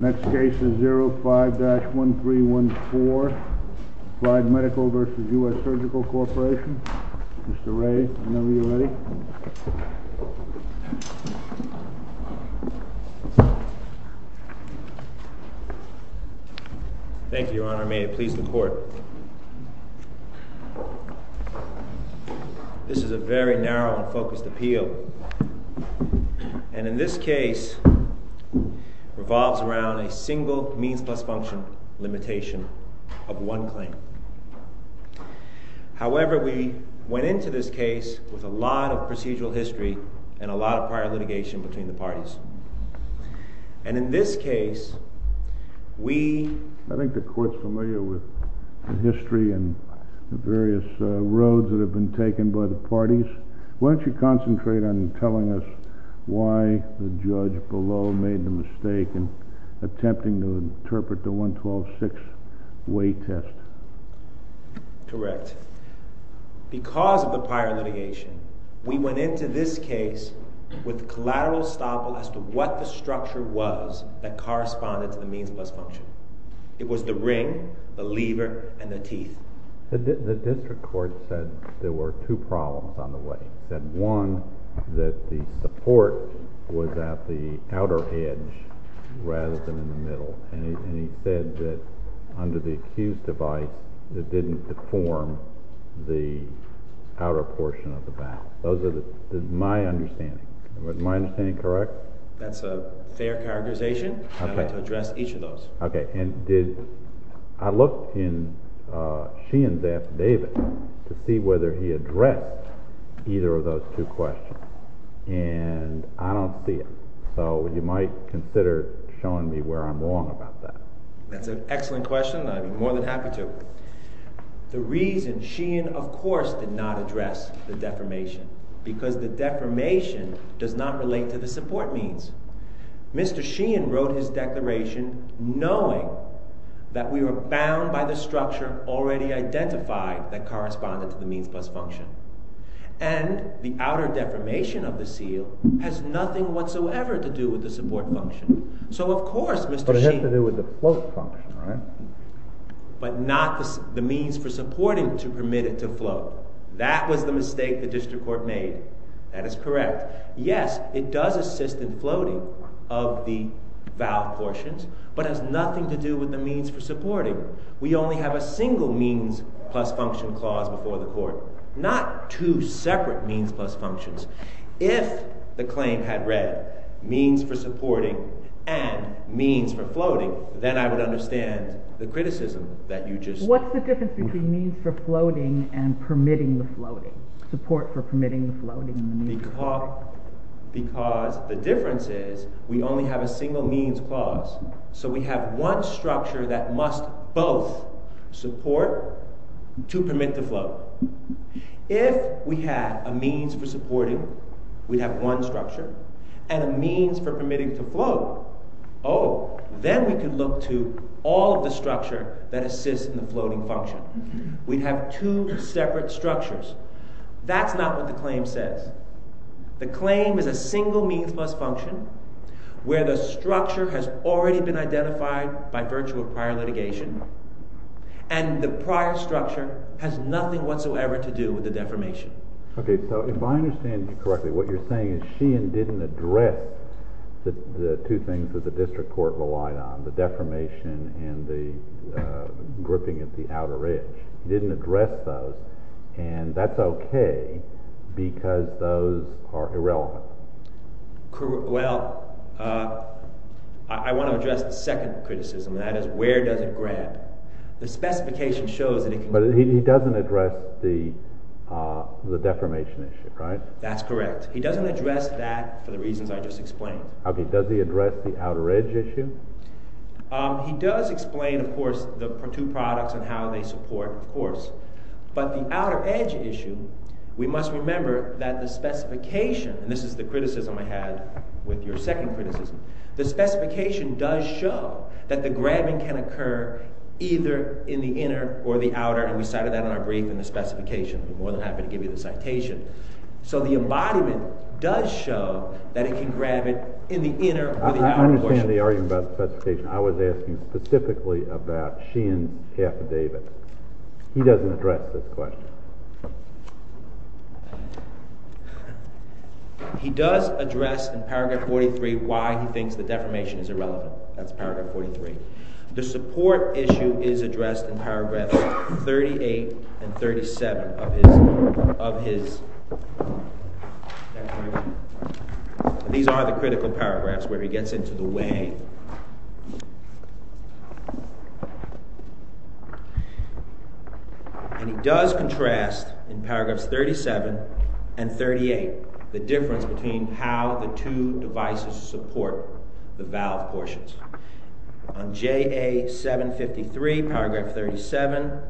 Next case is 05-1314 Applied Medical v. US Surgical Corp Mr. Ray, whenever you're ready Thank you, Your Honor. May it please the Court This is a very narrow and focused appeal And in this case revolves around a single means plus function limitation of one claim However, we went into this case with a lot of procedural history and a lot of prior litigation between the parties And in this case, we I think the Court's familiar with the history and the various roads that have been taken by the parties Why don't you concentrate on telling us why the judge below made the mistake in attempting to interpret the 112-6 weight test Correct Because of the prior litigation We went into this case with collateral estoppel as to what the structure was that corresponded to the means plus function It was the ring, the lever, and the teeth The district court said there were two problems on the way One, that the support was at the outer edge rather than in the middle And he said that under the accused device, it didn't deform the outer portion of the back Those are my understandings Am I understanding correct? That's a fair characterization I'd like to address each of those I looked in Sheehan's affidavit to see whether he addressed either of those two questions And I don't see it So you might consider showing me where I'm wrong about that That's an excellent question. I'd be more than happy to The reason Sheehan, of course, did not address the deformation Because the deformation does not relate to the support means Mr. Sheehan wrote his declaration knowing that we were bound by the structure already identified that corresponded to the means plus function And the outer deformation of the seal has nothing whatsoever to do with the support function So of course Mr. Sheehan But it has to do with the float function, right? But not the means for supporting to permit it to float That was the mistake the district court made That is correct Yes, it does assist in floating of the valve portions But has nothing to do with the means for supporting We only have a single means plus function clause before the court Not two separate means plus functions If the claim had read means for supporting and means for floating Then I would understand the criticism that you just What's the difference between means for floating and permitting the floating? Support for permitting the floating Because the difference is we only have a single means clause So we have one structure that must both support to permit the float If we had a means for supporting, we'd have one structure And a means for permitting to float Oh, then we could look to all of the structure that assist in the floating function We'd have two separate structures That's not what the claim says The claim is a single means plus function Where the structure has already been identified by virtue of prior litigation And the prior structure has nothing whatsoever to do with the deformation Okay, so if I understand you correctly What you're saying is Sheehan didn't address the two things that the district court relied on The deformation and the gripping at the outer edge He didn't address those And that's okay because those are irrelevant Well, I want to address the second criticism And that is where does it grant? The specification shows that it can But he doesn't address the deformation issue, right? That's correct He doesn't address that for the reasons I just explained Okay, does he address the outer edge issue? But the outer edge issue We must remember that the specification And this is the criticism I had with your second criticism The specification does show that the grabbing can occur either in the inner or the outer And we cited that in our brief in the specification I'm more than happy to give you the citation So the embodiment does show that it can grab it in the inner or the outer portion I understand the argument about the specification I was asking specifically about Sheehan's affidavit He doesn't address this question He does address in paragraph 43 Why he thinks the deformation is irrelevant That's paragraph 43 The support issue is addressed in paragraph 38 and 37 These are the critical paragraphs where he gets into the way And he does contrast in paragraphs 37 and 38 The difference between how the two devices support the valve portions On JA 753, paragraph 37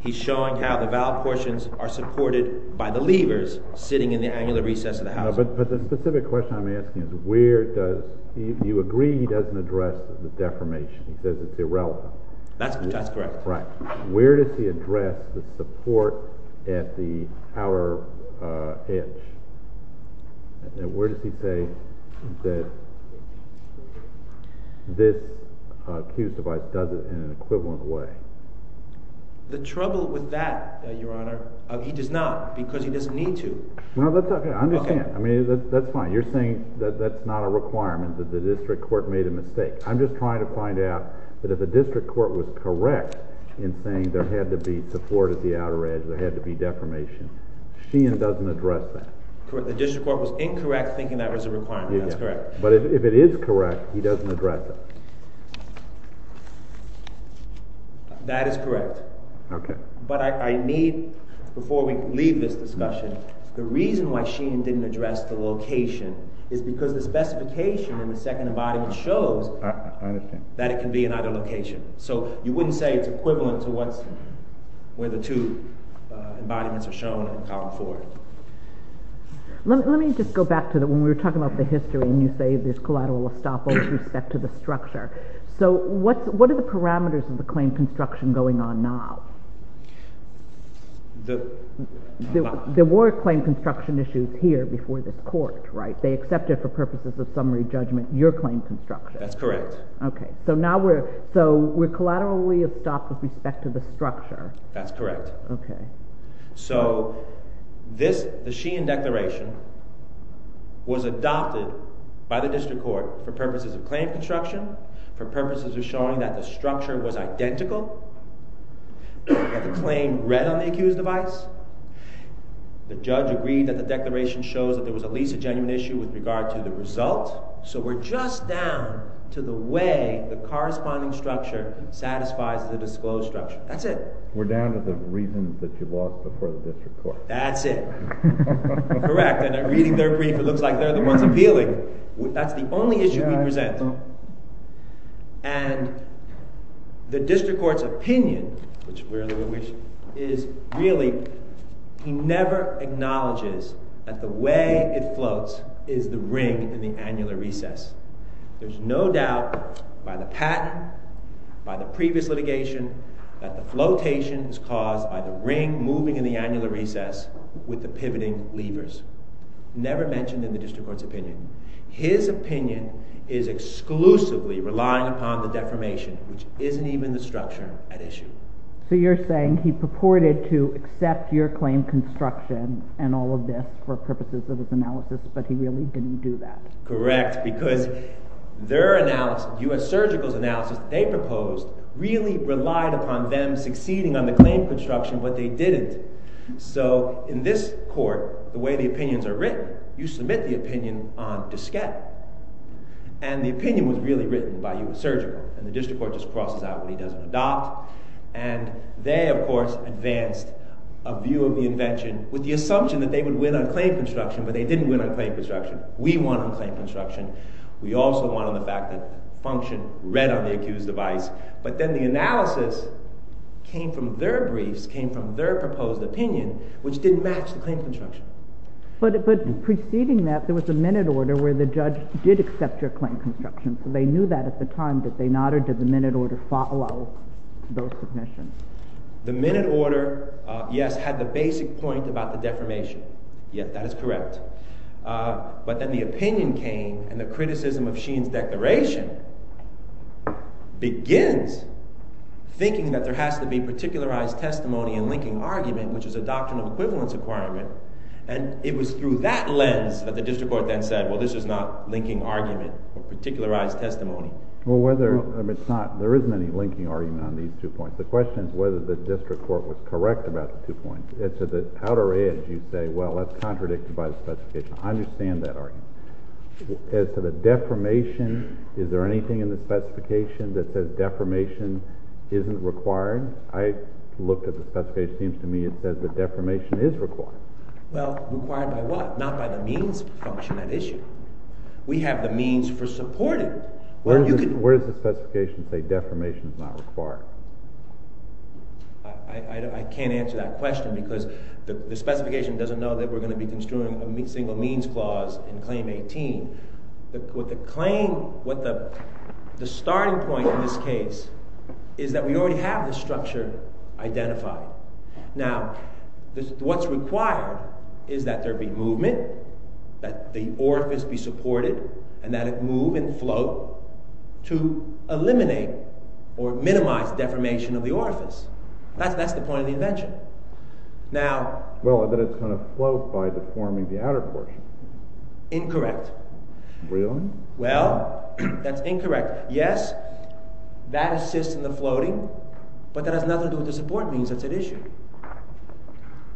He's showing how the valve portions are supported by the levers sitting in the angular recess of the housing But the specific question I'm asking is Where does—you agree he doesn't address the deformation He says it's irrelevant That's correct Right. Where does he address the support at the outer edge? And where does he say that this Q device does it in an equivalent way? The trouble with that, Your Honor He does not because he doesn't need to No, that's okay. I understand. I mean, that's fine You're saying that that's not a requirement That the district court made a mistake I'm just trying to find out that if the district court was correct In saying there had to be support at the outer edge, there had to be deformation Sheehan doesn't address that The district court was incorrect thinking that was a requirement. That's correct But if it is correct, he doesn't address it That is correct Okay But I need, before we leave this discussion The reason why Sheehan didn't address the location Is because the specification in the second embodiment shows I understand That it can be in either location So you wouldn't say it's equivalent to where the two embodiments are shown in column four Let me just go back to when we were talking about the history And you say there's collateral estoppel with respect to the structure So what are the parameters of the claim construction going on now? The There were claim construction issues here before this court, right? They accepted for purposes of summary judgment your claim construction That's correct Okay, so now we're So we're collaterally estopped with respect to the structure That's correct Okay So this, the Sheehan declaration Was adopted by the district court for purposes of claim construction For purposes of showing that the structure was identical That the claim read on the accused device The judge agreed that the declaration shows that there was at least a genuine issue with regard to the result So we're just down to the way the corresponding structure satisfies the disclosed structure That's it We're down to the reasons that you lost before the district court That's it Correct And reading their brief it looks like they're the ones appealing That's the only issue we present And The district court's opinion Which we really wish Is really He never acknowledges That the way it floats Is the ring in the annular recess There's no doubt By the patent By the previous litigation That the flotation is caused by the ring moving in the annular recess With the pivoting levers Never mentioned in the district court's opinion His opinion is exclusively relying upon the deformation Which isn't even the structure at issue So you're saying he purported to accept your claim construction And all of this for purposes of his analysis But he really didn't do that Correct because Their analysis, U.S. Surgical's analysis They proposed really relied upon them succeeding on the claim construction But they didn't So in this court The way the opinions are written You submit the opinion on diskette And the opinion was really written by U.S. Surgical And the district court just crosses out what he doesn't adopt And they of course advanced A view of the invention With the assumption that they would win on claim construction But they didn't win on claim construction We won on claim construction We also won on the fact that function Read on the accused device But then the analysis Came from their briefs, came from their proposed opinion Which didn't match the claim construction But preceding that There was a minute order where the judge did accept your claim construction So they knew that at the time Did they not or did the minute order follow Those submissions The minute order Yes, had the basic point about the defamation Yes, that is correct But then the opinion came And the criticism of Sheen's declaration Begins Thinking that there has to be particularized testimony And linking argument Which is a doctrine of equivalence requirement And it was through that lens That the district court then said Well this is not linking argument Or particularized testimony Well whether, I mean it's not, there isn't any linking argument on these two points The question is whether the district court was correct About the two points As to the outer edge You say well that's contradicted by the specification I understand that argument As to the defamation Is there anything in the specification That says defamation isn't required I looked at the specification It seems to me it says that defamation is required Well, required by what Not by the means function at issue We have the means for supporting Where does the specification say Defamation is not required I can't answer that question Because the specification doesn't know That we're going to be construing a single means clause In claim 18 With the claim The starting point in this case Is that we already have the structure Identified Now, what's required Is that there be movement That the orifice be supported And that it move and float To eliminate Or minimize defamation Of the orifice That's the point of the invention Well, that it's going to float By deforming the outer portion Incorrect Well, that's incorrect Yes, that assists in the floating But that has nothing to do with What the support means, that's at issue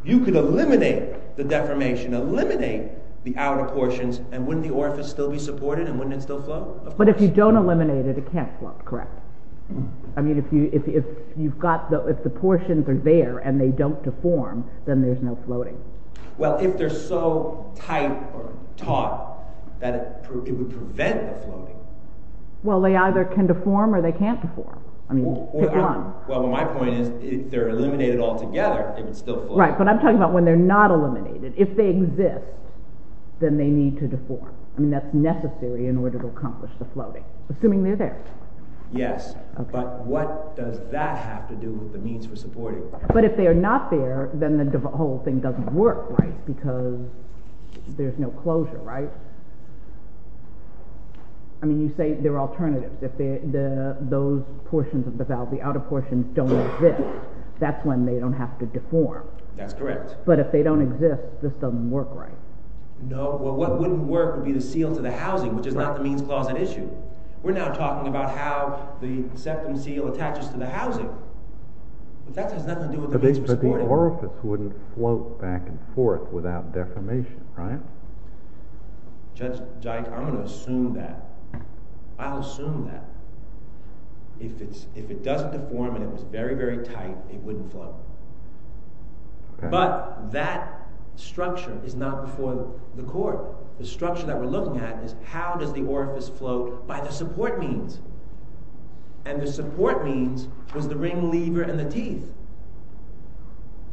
You could eliminate the defamation Eliminate the outer portions And wouldn't the orifice still be supported And wouldn't it still float But if you don't eliminate it, it can't float, correct I mean, if you've got If the portions are there And they don't deform Then there's no floating Well, if they're so tight Or taut That it would prevent the floating Well, they either can deform Or they can't deform Well, my point is If they're eliminated altogether, it would still float Right, but I'm talking about when they're not eliminated If they exist Then they need to deform I mean, that's necessary in order to accomplish the floating Assuming they're there Yes, but what does that have to do With the needs for supporting But if they're not there, then the whole thing doesn't work Right Because there's no closure, right I mean, you say there are alternatives If those portions of the valve The outer portions don't exist That's when they don't have to deform That's correct But if they don't exist, this doesn't work right No, well, what wouldn't work would be the seal to the housing Which is not the means closet issue We're now talking about how The septum seal attaches to the housing But that has nothing to do with the means of supporting But the orifice wouldn't float Back and forth without deformation Right Judge Dike, I'm going to assume that I'll assume that If it doesn't deform And it was very, very tight It wouldn't float But that structure Is not before the court The structure that we're looking at Is how does the orifice float By the support means And the support means Was the ring lever and the teeth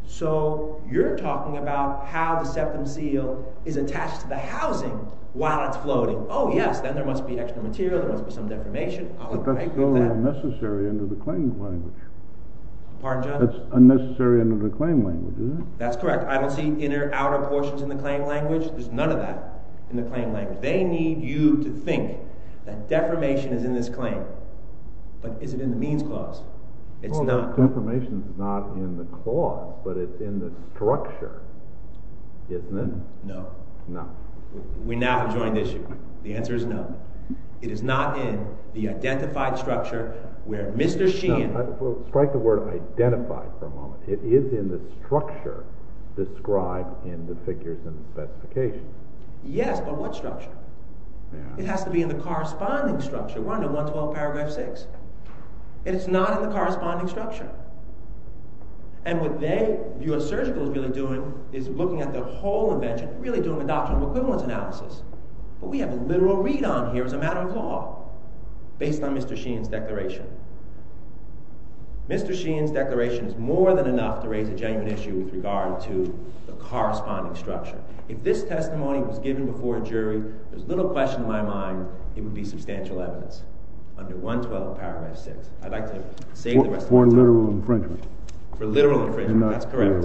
So You're talking about how the septum seal Is attached to the housing While it's floating Oh, yes, then there must be extra material There must be some deformation But that's still unnecessary under the claim language Pardon, Judge? That's unnecessary under the claim language, isn't it? That's correct. I don't see inner, outer portions in the claim language There's none of that in the claim language They need you to think That deformation is in this claim But is it in the means clause? Well, the deformation is not in the clause But it's in the structure Isn't it? No We now have a joined issue The answer is no It is not in the identified structure Where Mr. Sheehan We'll strike the word identified for a moment It is in the structure Described in the figures and specifications Yes, but what structure? It has to be in the corresponding structure Run to 112 paragraph 6 And it's not in the corresponding structure And what they The US Surgical is really doing Is looking at the whole invention Really doing a doctrinal equivalence analysis But we have a literal read on here As a matter of law Based on Mr. Sheehan's declaration Mr. Sheehan's declaration Is more than enough to raise a genuine issue If this testimony Was given before a jury There's little question in my mind It would be substantial evidence Under 112 paragraph 6 I'd like to save the rest of my time For literal infringement That's correct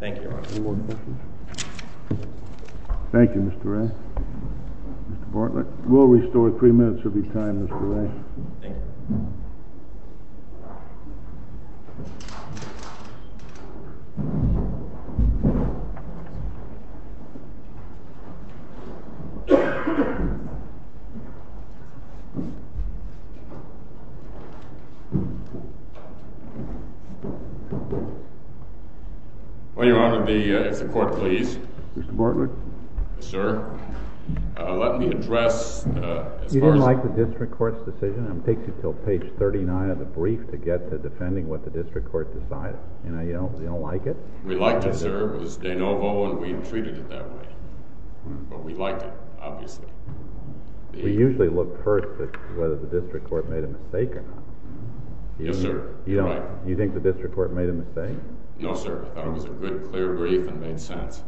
Thank you Thank you Mr. Ray Mr. Bartlett We'll restore three minutes of your time Mr. Ray Thank you Mr. Bartlett Will your Honor the court please Mr. Bartlett Sir Let me address You didn't like the district court's decision And it takes you to page 39 of the brief To get to defending what the district court decided And you don't like it We liked it sir, it was de novo And we've treated it that way But we liked it, obviously We usually look first at Whether the district court made a mistake or not Yes sir, you're right You think the district court made a mistake No sir, I thought it was a good clear brief And made sense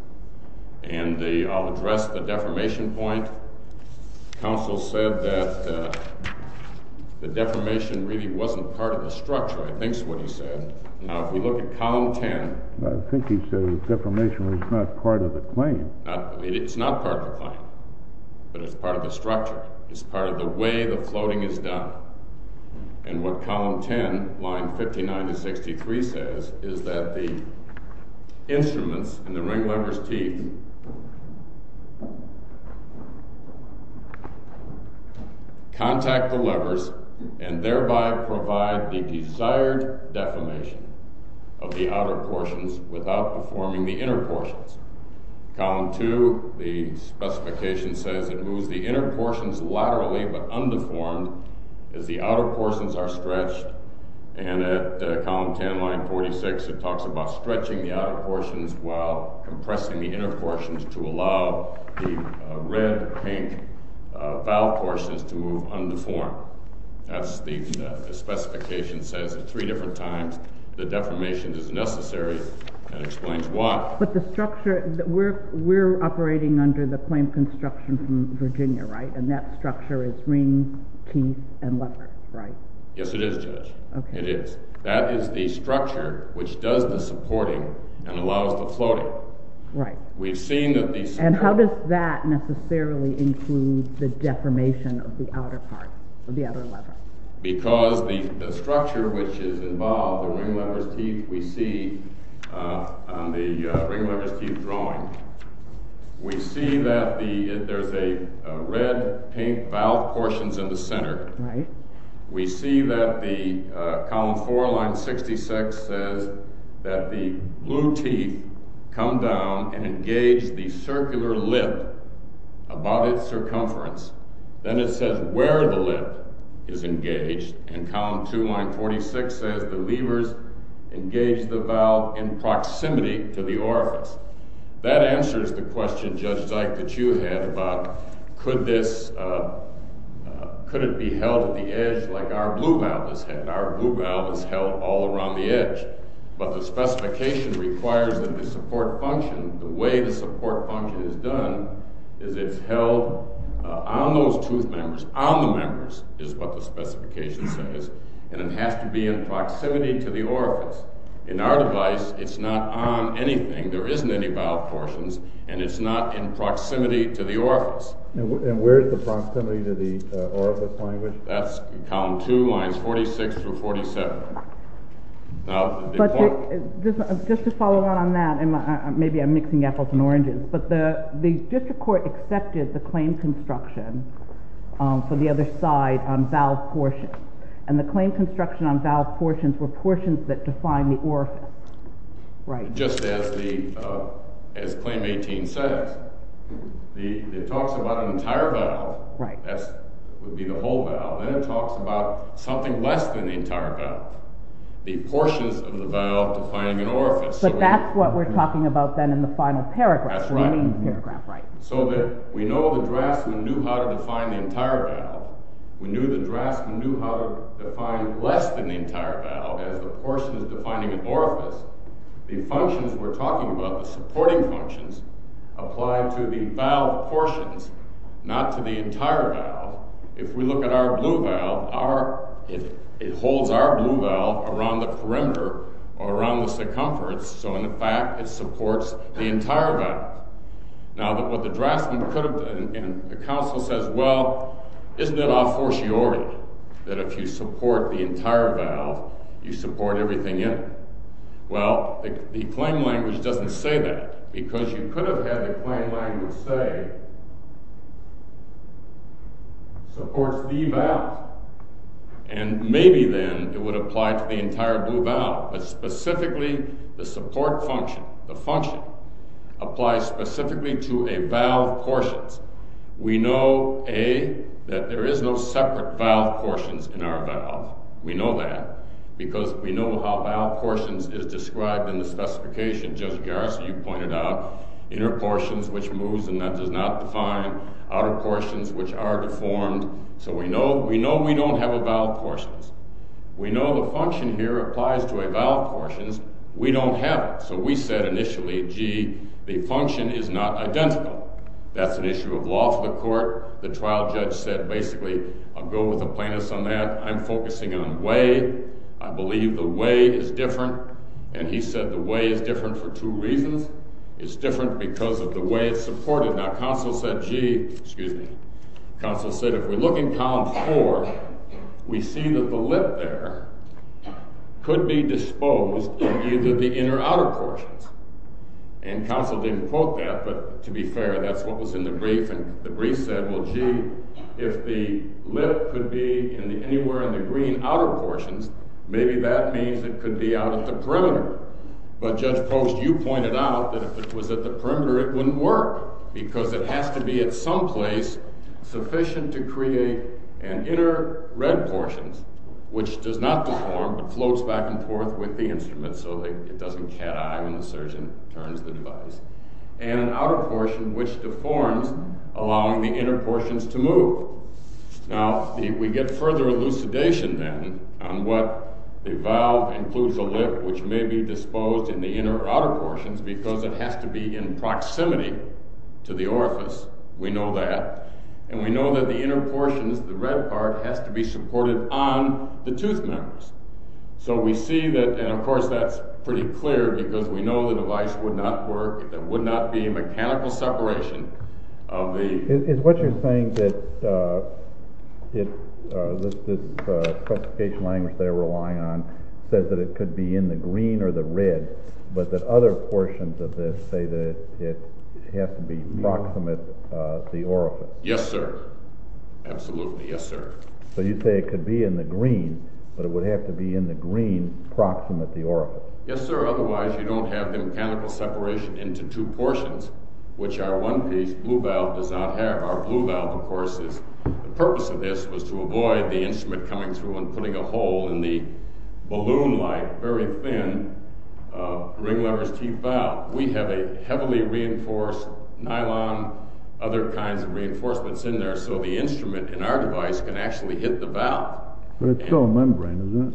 And I'll address the defamation point Counsel said that The defamation really wasn't part of the structure I think is what he said Now if we look at column 10 I think he said the defamation was not part of the claim It's not part of the claim But it's part of the structure It's part of the way the floating is done And what column 10 Line 59 to 63 says Is that the Instruments in the ring lever's teeth Contact the levers And thereby provide the Desired defamation Of the outer portions Without deforming the inner portions Column 2 The specification says It moves the inner portions laterally but undeformed As the outer portions are stretched And at Column 10 line 46 It talks about stretching the outer portions While compressing the inner portions To allow the red Pink Foul portions to move undeformed That's the specification Says three different times The defamation is necessary But the structure We're operating under the Claim construction from Virginia And that structure is ring Teeth and levers Yes it is That is the structure Which does the supporting And allows the floating And how does that Necessarily include the deformation Of the outer part Because the structure Which is involved The ring lever's teeth We see On the ring lever's teeth drawing We see that There's a red pink foul portions In the center We see that the Column 4 line 66 Says that the blue teeth Come down and engage The circular lip About its circumference Then it says where the lip Is engaged And column 2 line 46 says The levers engage the valve In proximity to the orifice That answers the question Judge Dyke that you had About could this Could it be held at the edge Like our blue valve Is held all around the edge But the specification requires That the support function The way the support function is done Is it's held On those tooth members On the members Is what the specification says And it has to be in proximity To the orifice In our device it's not on anything There isn't any valve portions And it's not in proximity To the orifice And where's the proximity To the orifice language That's column 2 lines 46 Through 47 Just to follow on that Maybe I'm mixing apples and oranges But the district court accepted The claim construction For the other side on valve portions And the claim construction On valve portions were portions That define the orifice Just as the As claim 18 says It talks about an entire valve That would be the whole valve Then it talks about something Less than the entire valve The portions of the valve Defining an orifice But that's what we're talking about Then in the final paragraph So that we know the draftsman Knew how to define the entire valve We knew the draftsman knew How to define less than the entire valve As the portions defining an orifice The functions we're talking about The supporting functions Apply to the valve portions Not to the entire valve If we look at our blue valve It holds our blue valve Around the perimeter Or around the circumference So in fact it supports the entire valve Now that what the draftsman Could have done And the counsel says well Isn't it a fortiori That if you support the entire valve You support everything in Well the claim language doesn't say that Because you could have had The claim language say Supports the valve And maybe then It would apply to the entire blue valve But specifically the support function The function Applies specifically to a valve portions We know That there is no separate Valve portions in our valve We know that Because we know how valve portions Is described in the specification Judge Garrison you pointed out Inner portions which moves and that does not define Outer portions which are deformed So we know we don't have a valve portions We know the function here applies To a valve portions We don't have it so we said initially Gee the function is not identical That's an issue of law for the court The trial judge said basically I'll go with the plaintiffs on that I'm focusing on way I believe the way is different And he said the way is different For two reasons It's different because of the way it's supported Now counsel said gee excuse me Counsel said if we look in column four We see that the lip there Could be disposed In either the inner or outer portions And counsel didn't quote that But to be fair that's what was in the brief And the brief said well gee If the lip Could be anywhere in the green Outer portions maybe that means It could be out at the perimeter But judge Post you pointed out That if it was at the perimeter it wouldn't work Because it has to be at some place Sufficient to create An inner red portion Which does not deform It floats back and forth with the instrument So it doesn't cat eye when the surgeon Turns the device And an outer portion which deforms Allowing the inner portions to move Now we get further Elucidation then On what the valve includes a lip Which may be disposed in the inner Or outer portions because it has to be In proximity to the orifice We know that And we know that the inner portions The red part has to be supported On the tooth members So we see that and of course that's Pretty clear because we know the device Would not work it would not be Mechanical separation Is what you're saying That The specification language They're relying on says that It could be in the green or the red But that other portions of this Say that it has to be Proximate the orifice Yes sir absolutely yes sir So you say it could be in the green But it would have to be in the green Proximate the orifice Yes sir otherwise you don't have the mechanical separation Into two portions Which our one piece blue valve does not have Our blue valve of course is The purpose of this was to avoid the instrument Coming through and putting a hole in the Balloon like very thin Ring lever's teeth valve We have a heavily reinforced Nylon other kinds of Reinforcements in there so the instrument In our device can actually hit the valve But it's still a membrane isn't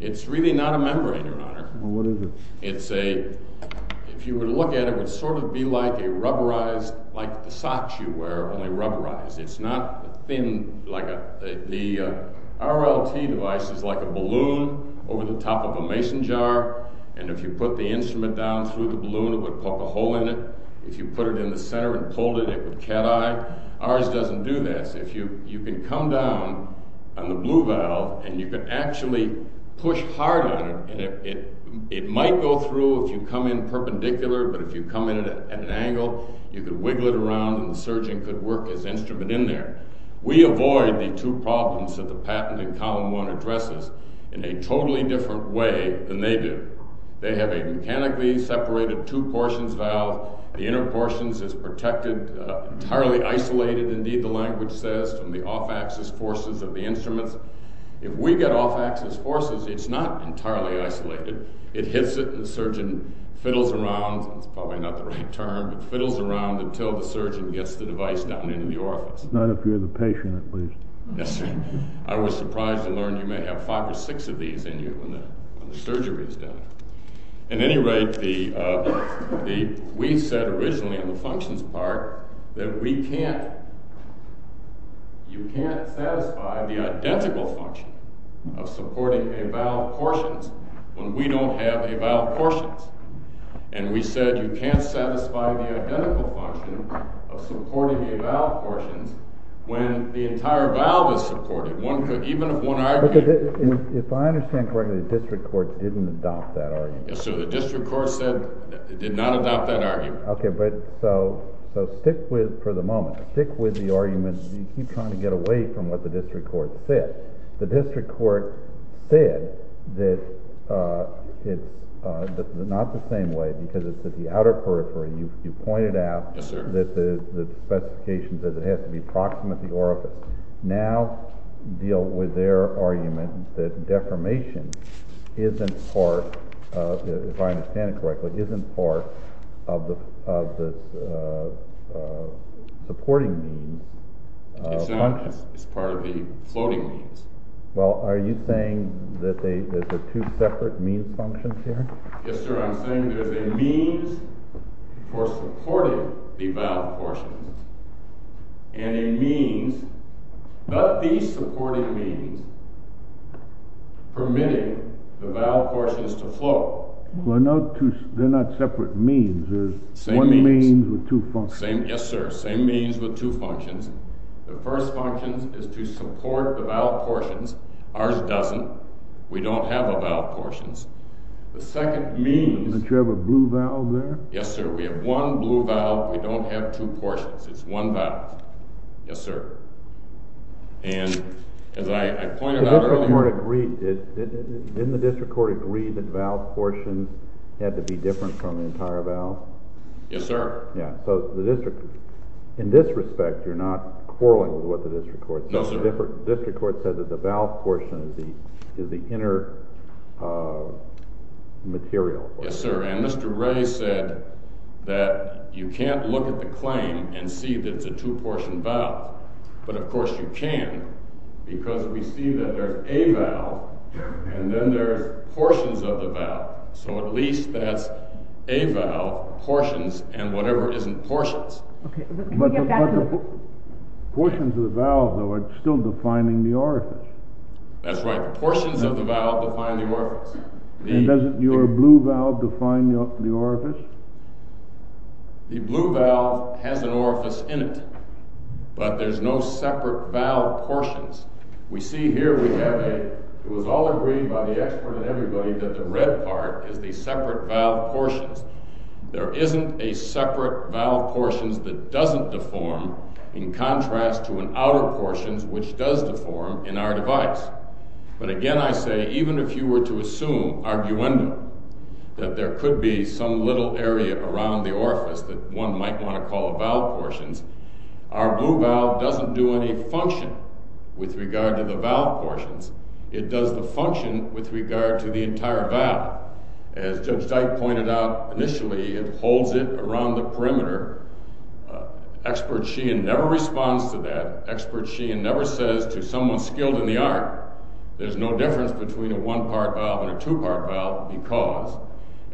it It's really not a membrane your honor Well what is it It's a if you were to look at it It would sort of be like a rubberized Like the socks you wear only rubberized It's not thin like a The RLT device Is like a balloon over the top Of a mason jar and if you put The instrument down through the balloon It would poke a hole in it If you put it in the center and pulled it it would cateye Ours doesn't do that You can come down on the blue valve And you can actually Push hard on it It might go through if you come in Perpendicular but if you come in at an angle You can wiggle it around And the surgeon could work his instrument in there We avoid the two problems That the patent in column one Addresses in a totally different way Than they do They have a mechanically separated Two portions valve The inner portions is protected Entirely isolated indeed the language says From the off axis forces of the instruments If we get off axis forces It's not entirely isolated It hits it and the surgeon Fiddles around Fiddles around until the surgeon Gets the device down into the orifice Not if you're the patient at least I was surprised to learn You may have five or six of these in you When the surgery is done At any rate We said originally On the functions part That we can't You can't satisfy the identical function Of supporting a valve Portions When we don't have a valve portions And we said you can't satisfy The identical function Of supporting a valve portions When the entire valve is supported Even if one argument If I understand correctly The district court didn't adopt that argument The district court said It did not adopt that argument So stick with for the moment Stick with the argument You keep trying to get away From what the district court said The district court said That it's not the same way Because it's at the outer periphery You pointed out That the specification says It has to be proximate to the orifice Now deal with their argument That deformation Isn't part If I understand it correctly Isn't part of the Supporting Means It's part of the floating means Well are you saying That there's a two separate Means functions here Yes sir I'm saying there's a means For supporting the valve portions And a means But these supporting means Permitting the valve portions To float They're not separate means There's one means with two functions Yes sir same means with two functions The first function is to support The valve portions Ours doesn't we don't have a valve portions The second means Don't you have a blue valve there Yes sir we have one blue valve We don't have two portions It's one valve Yes sir And as I pointed out earlier Didn't the district court agree That valve portions Had to be different from the entire valve Yes sir In this respect You're not quarreling with what the district court says No sir The district court says that the valve portion Is the inner Material Yes sir and Mr. Ray said That you can't look at the claim And see that it's a two portion valve But of course you can Because we see that there's A valve and then there's Portions of the valve So at least that's A valve portions and whatever Isn't portions But the portions of the valve Are still defining the orifice That's right The portions of the valve define the orifice And doesn't your blue valve define The orifice The blue valve has an orifice In it but there's no Separate valve portions We see here we have a It was all agreed by the expert and everybody That the red part is the separate Valve portions There isn't a separate valve portions That doesn't deform In contrast to an outer portions Which does deform in our device But again I say even If you were to assume arguendum That there could be some little area Around the orifice that one might Want to call a valve portions Our blue valve doesn't do any Function with regard to the Valve portions it does the Function with regard to the entire valve As Judge Dyke pointed out Initially it holds it Around the perimeter Expert Sheehan never responds To that expert Sheehan never says To someone skilled in the art There's no difference between a one part Valve and a two part valve because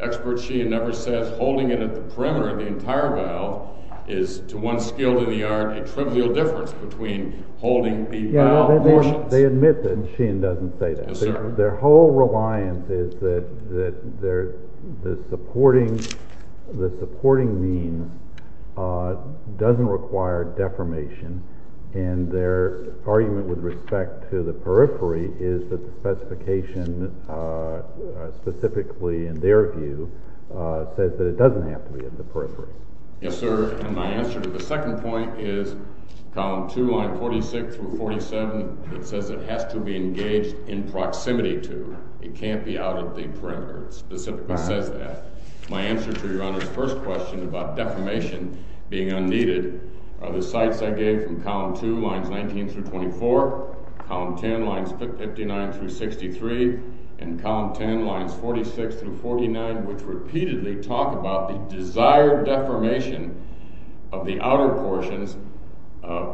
Expert Sheehan never says Holding it at the perimeter of the entire valve Is to one skilled in the art A trivial difference between Holding the valve portions They admit that and Sheehan doesn't say that Their whole reliance is that That the supporting The supporting Means Doesn't require deformation And their argument With respect to the periphery Is that the specification Specifically in their View says that it doesn't Have to be at the periphery Yes sir and my answer to the second point Is column 2 line 46 Through 47 it says It has to be engaged in proximity To it can't be out at the Perimeter it specifically says that My answer to your honors first question About deformation being Unneeded are the sites I gave From column 2 lines 19 through 24 Column 10 lines 59 Through 63 and column 10 lines 46 through 49 Which repeatedly talk about The desired deformation Of the outer portions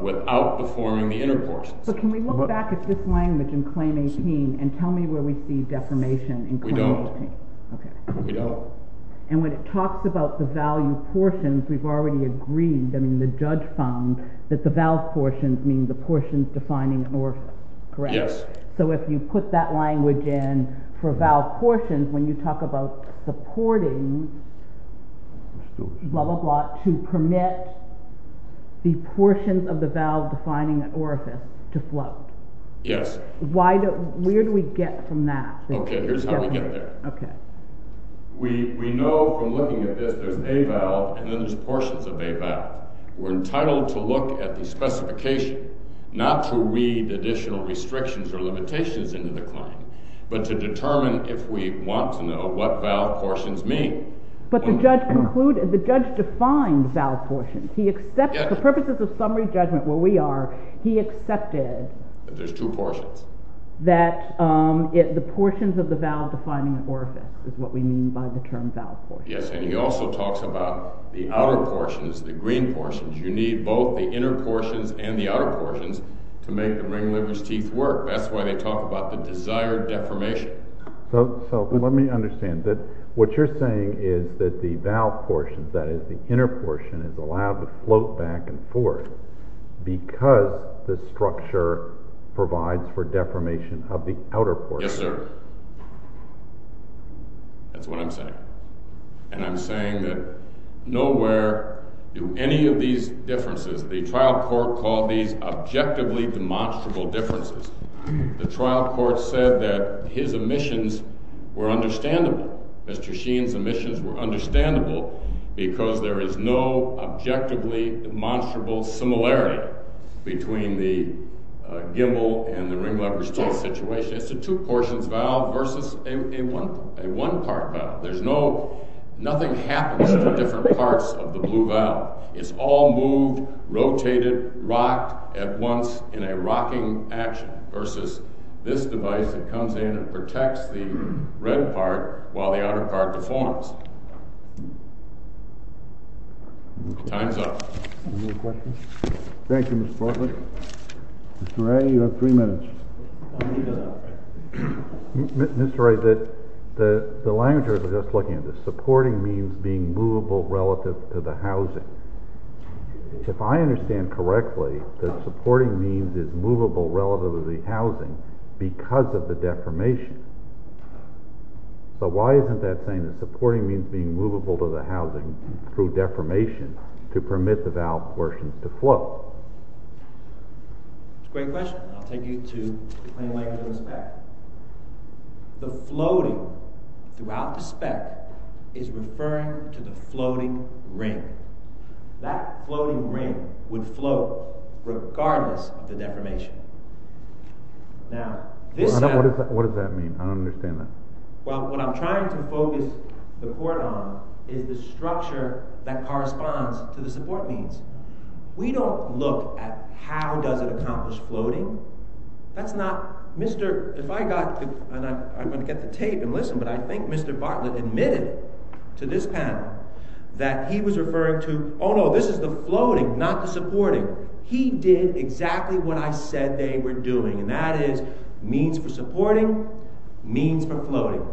Without deforming the inner Portions but can we look back at this language In claim 18 and tell me where We see deformation in claim 18 We don't And when it talks about the value Portions we've already agreed The judge found that the valve Portions mean the portions defining Orifice correct yes so if You put that language in for Valve portions when you talk about Supporting Blah blah blah to Permit the Portions of the valve defining Orifice to float yes Why do where do we get From that okay here's how we get there Okay we we know From looking at this there's a valve And then there's portions of a valve We're entitled to look at the Specification not to Read additional restrictions or limitations Into the claim but to Determine if we want to know what Valve portions mean but the Judge concluded the judge defined Valve portions he accepts the purposes Of summary judgment where we are He accepted that there's two Portions that The portions of the valve defining Orifice is what we mean by the term Valve portions yes and he also talks about The outer portions the green portions You need both the inner portions And the outer portions to make the Ring livers teeth work that's why they talk About the desired deformation So let me understand that What you're saying is that the Valve portions that is the inner portion Is allowed to float back and forth Because The structure provides For deformation of the outer portion Yes sir That's what I'm saying And I'm saying that Nowhere do Any of these differences the trial Court called these objectively Demonstrable differences The trial court said that his Emissions were understandable Mr. Sheen's emissions were Understandable because there is No objectively demonstrable Similarity Between the gimbal And the ring livers teeth situation It's a two portions valve versus A one part valve There's no nothing happens To different parts of the blue valve It's all moved Rotated rocked at once In a rocking action Versus this device that comes in And protects the red part While the outer part deforms Time's up Any more questions Thank you Mr. Portland Mr. Ray you have three minutes Mr. Ray Mr. Ray The language I was just looking at The supporting means being movable Relative to the housing If I understand correctly The supporting means is movable Relative to the housing Because of the deformation So why isn't that Saying the supporting means being movable To the housing through deformation To permit the valve portions to Float Great question I'll take you to The plain language of the spec The floating Throughout the spec Is referring to the floating ring That floating ring Would float Regardless of the deformation Now this What does that mean I don't understand that What I'm trying to focus the report on Is the structure that corresponds To the support means We don't look at how does it accomplish Floating That's not I'm going to get the tape and listen But I think Mr. Bartlett admitted To this panel That he was referring to Oh no this is the floating not the supporting He did exactly what I said They were doing and that is Means for supporting Means for floating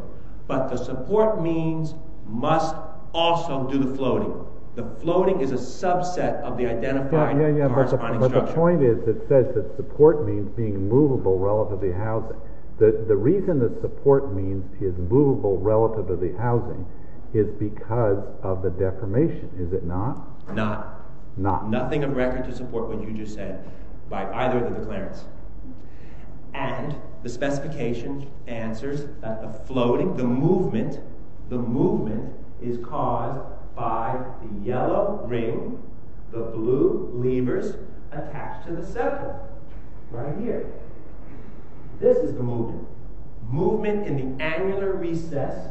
But the support means must Also do the floating The floating is a subset of the Identifying the corresponding structure But the point is it says that support means Being movable relative to the housing The reason that support means Is movable relative to the housing Is because of the deformation Is it not Not Nothing of record to support what you just said By either of the declarants And the specification answers That the floating The movement Is caused by The yellow ring The blue levers Attached to the central Right here This is the movement Movement in the angular recess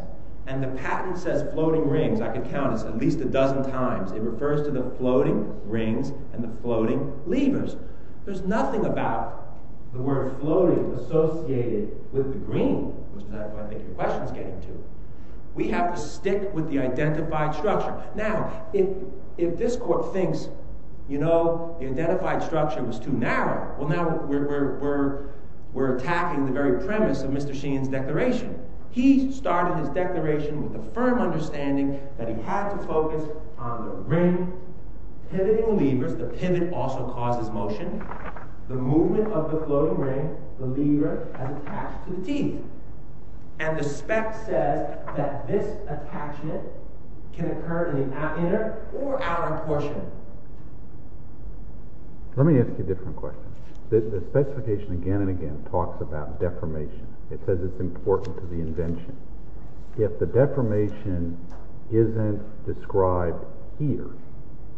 And the patent says floating rings I can count this at least a dozen times It refers to the floating rings And the floating levers There's nothing about The word floating associated With the green Which I think your question is getting to We have to stick with the identified structure Now if this court thinks You know The identified structure was too narrow Well now we're Attacking the very premise of Mr. Sheehan's Declaration He started his declaration with a firm understanding That he had to focus On the ring Pivoting levers, the pivot also causes motion The movement of the floating ring And the lever Attached to the demon And the spec says that this attachment Can occur in the outer Inner or outer portion Let me ask you a different question The specification again and again Talks about deformation It says it's important to the invention If the deformation Isn't described here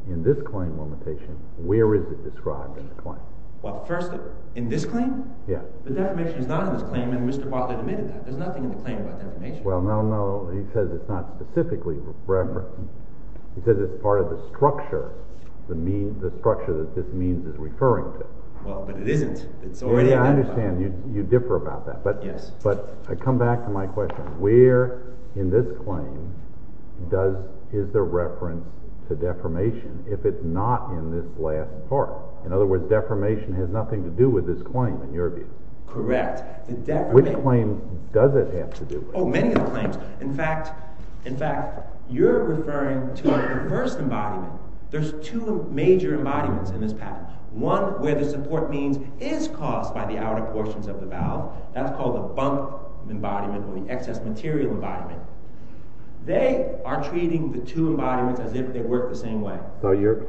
In this claim limitation Where is it described in the claim? Well first in this claim The deformation is not in this claim And Mr. Butler admitted that There's nothing in the claim about deformation Well no no he says it's not specifically referenced He says it's part of the structure The structure that this means Is referring to Well but it isn't I understand you differ about that But I come back to my question Where in this claim Is there reference To deformation if it's not In this last part In other words deformation has nothing to do with this claim In your view Correct Which claim does it have to do with Oh many of the claims In fact you're referring to The first embodiment There's two major embodiments in this pattern One where the support means Is caused by the outer portions of the valve That's called the bunk embodiment Or the excess material embodiment They are treating the two embodiments As if they work the same way So you're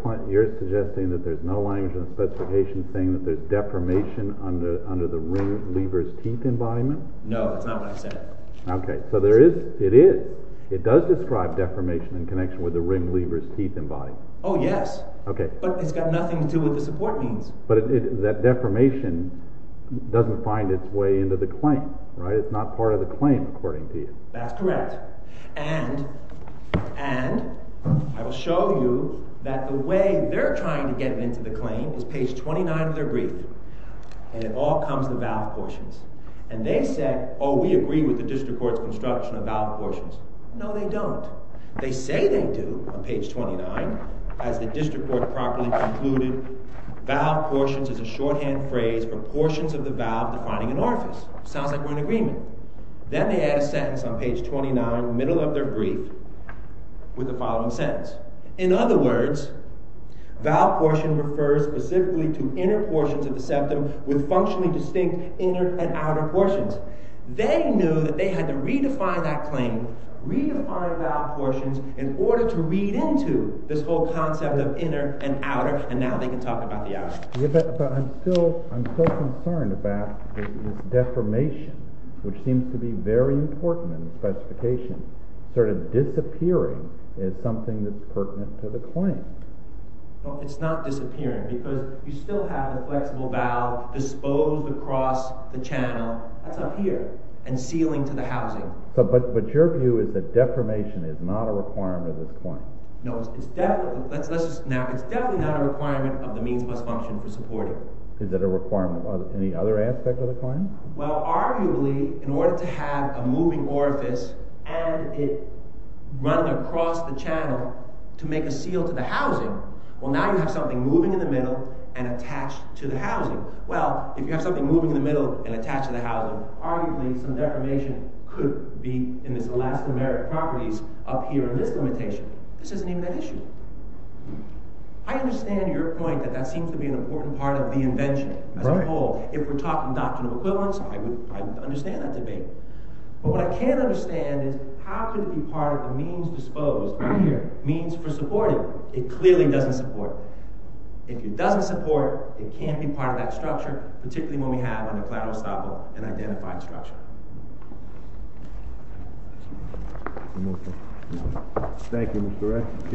suggesting that there's no language In the specification saying that there's deformation Under the ring lever's teeth embodiment No that's not what I said Ok so there is It does describe deformation In connection with the ring lever's teeth embodiment Oh yes But it's got nothing to do with the support means But that deformation Doesn't find its way into the claim It's not part of the claim according to you That's correct And I will show you That the way they're trying to get Into the claim is page 29 of their brief And it all comes to valve portions And they said Oh we agree with the district court's construction Of valve portions No they don't They say they do on page 29 As the district court properly concluded Valve portions is a shorthand phrase For portions of the valve defining an orifice Sounds like we're in agreement Then they add a sentence on page 29 Middle of their brief With the following sentence In other words Valve portion refers specifically to inner portions Of the septum with functionally distinct Inner and outer portions They knew that they had to redefine that claim Redefine valve portions In order to read into This whole concept of inner and outer And now they can talk about the outer But I'm still I'm still concerned about This deformation Which seems to be very important In the specification Sort of disappearing Is something that's pertinent to the claim It's not disappearing Because you still have a flexible valve Disposed across the channel That's up here And sealing to the housing But your view is that deformation is not a requirement Of this claim It's definitely not a requirement Of the means bus function for supporting Is that a requirement? Any other aspect of the claim? Well, arguably, in order to have a moving orifice And it Run across the channel To make a seal to the housing Well now you have something moving in the middle And attached to the housing Well, if you have something moving in the middle And attached to the housing Arguably some deformation could be In this elastomeric properties Up here in this limitation This isn't even an issue I understand your point That that seems to be an important part of the invention As a whole If we're talking doctrinal equivalence I would understand that debate But what I can't understand is How could it be part of the means disposed Means for supporting It clearly doesn't support If it doesn't support It can't be part of that structure Particularly when we have an identified structure Thank you Thank you Mr. Ray Case is submitted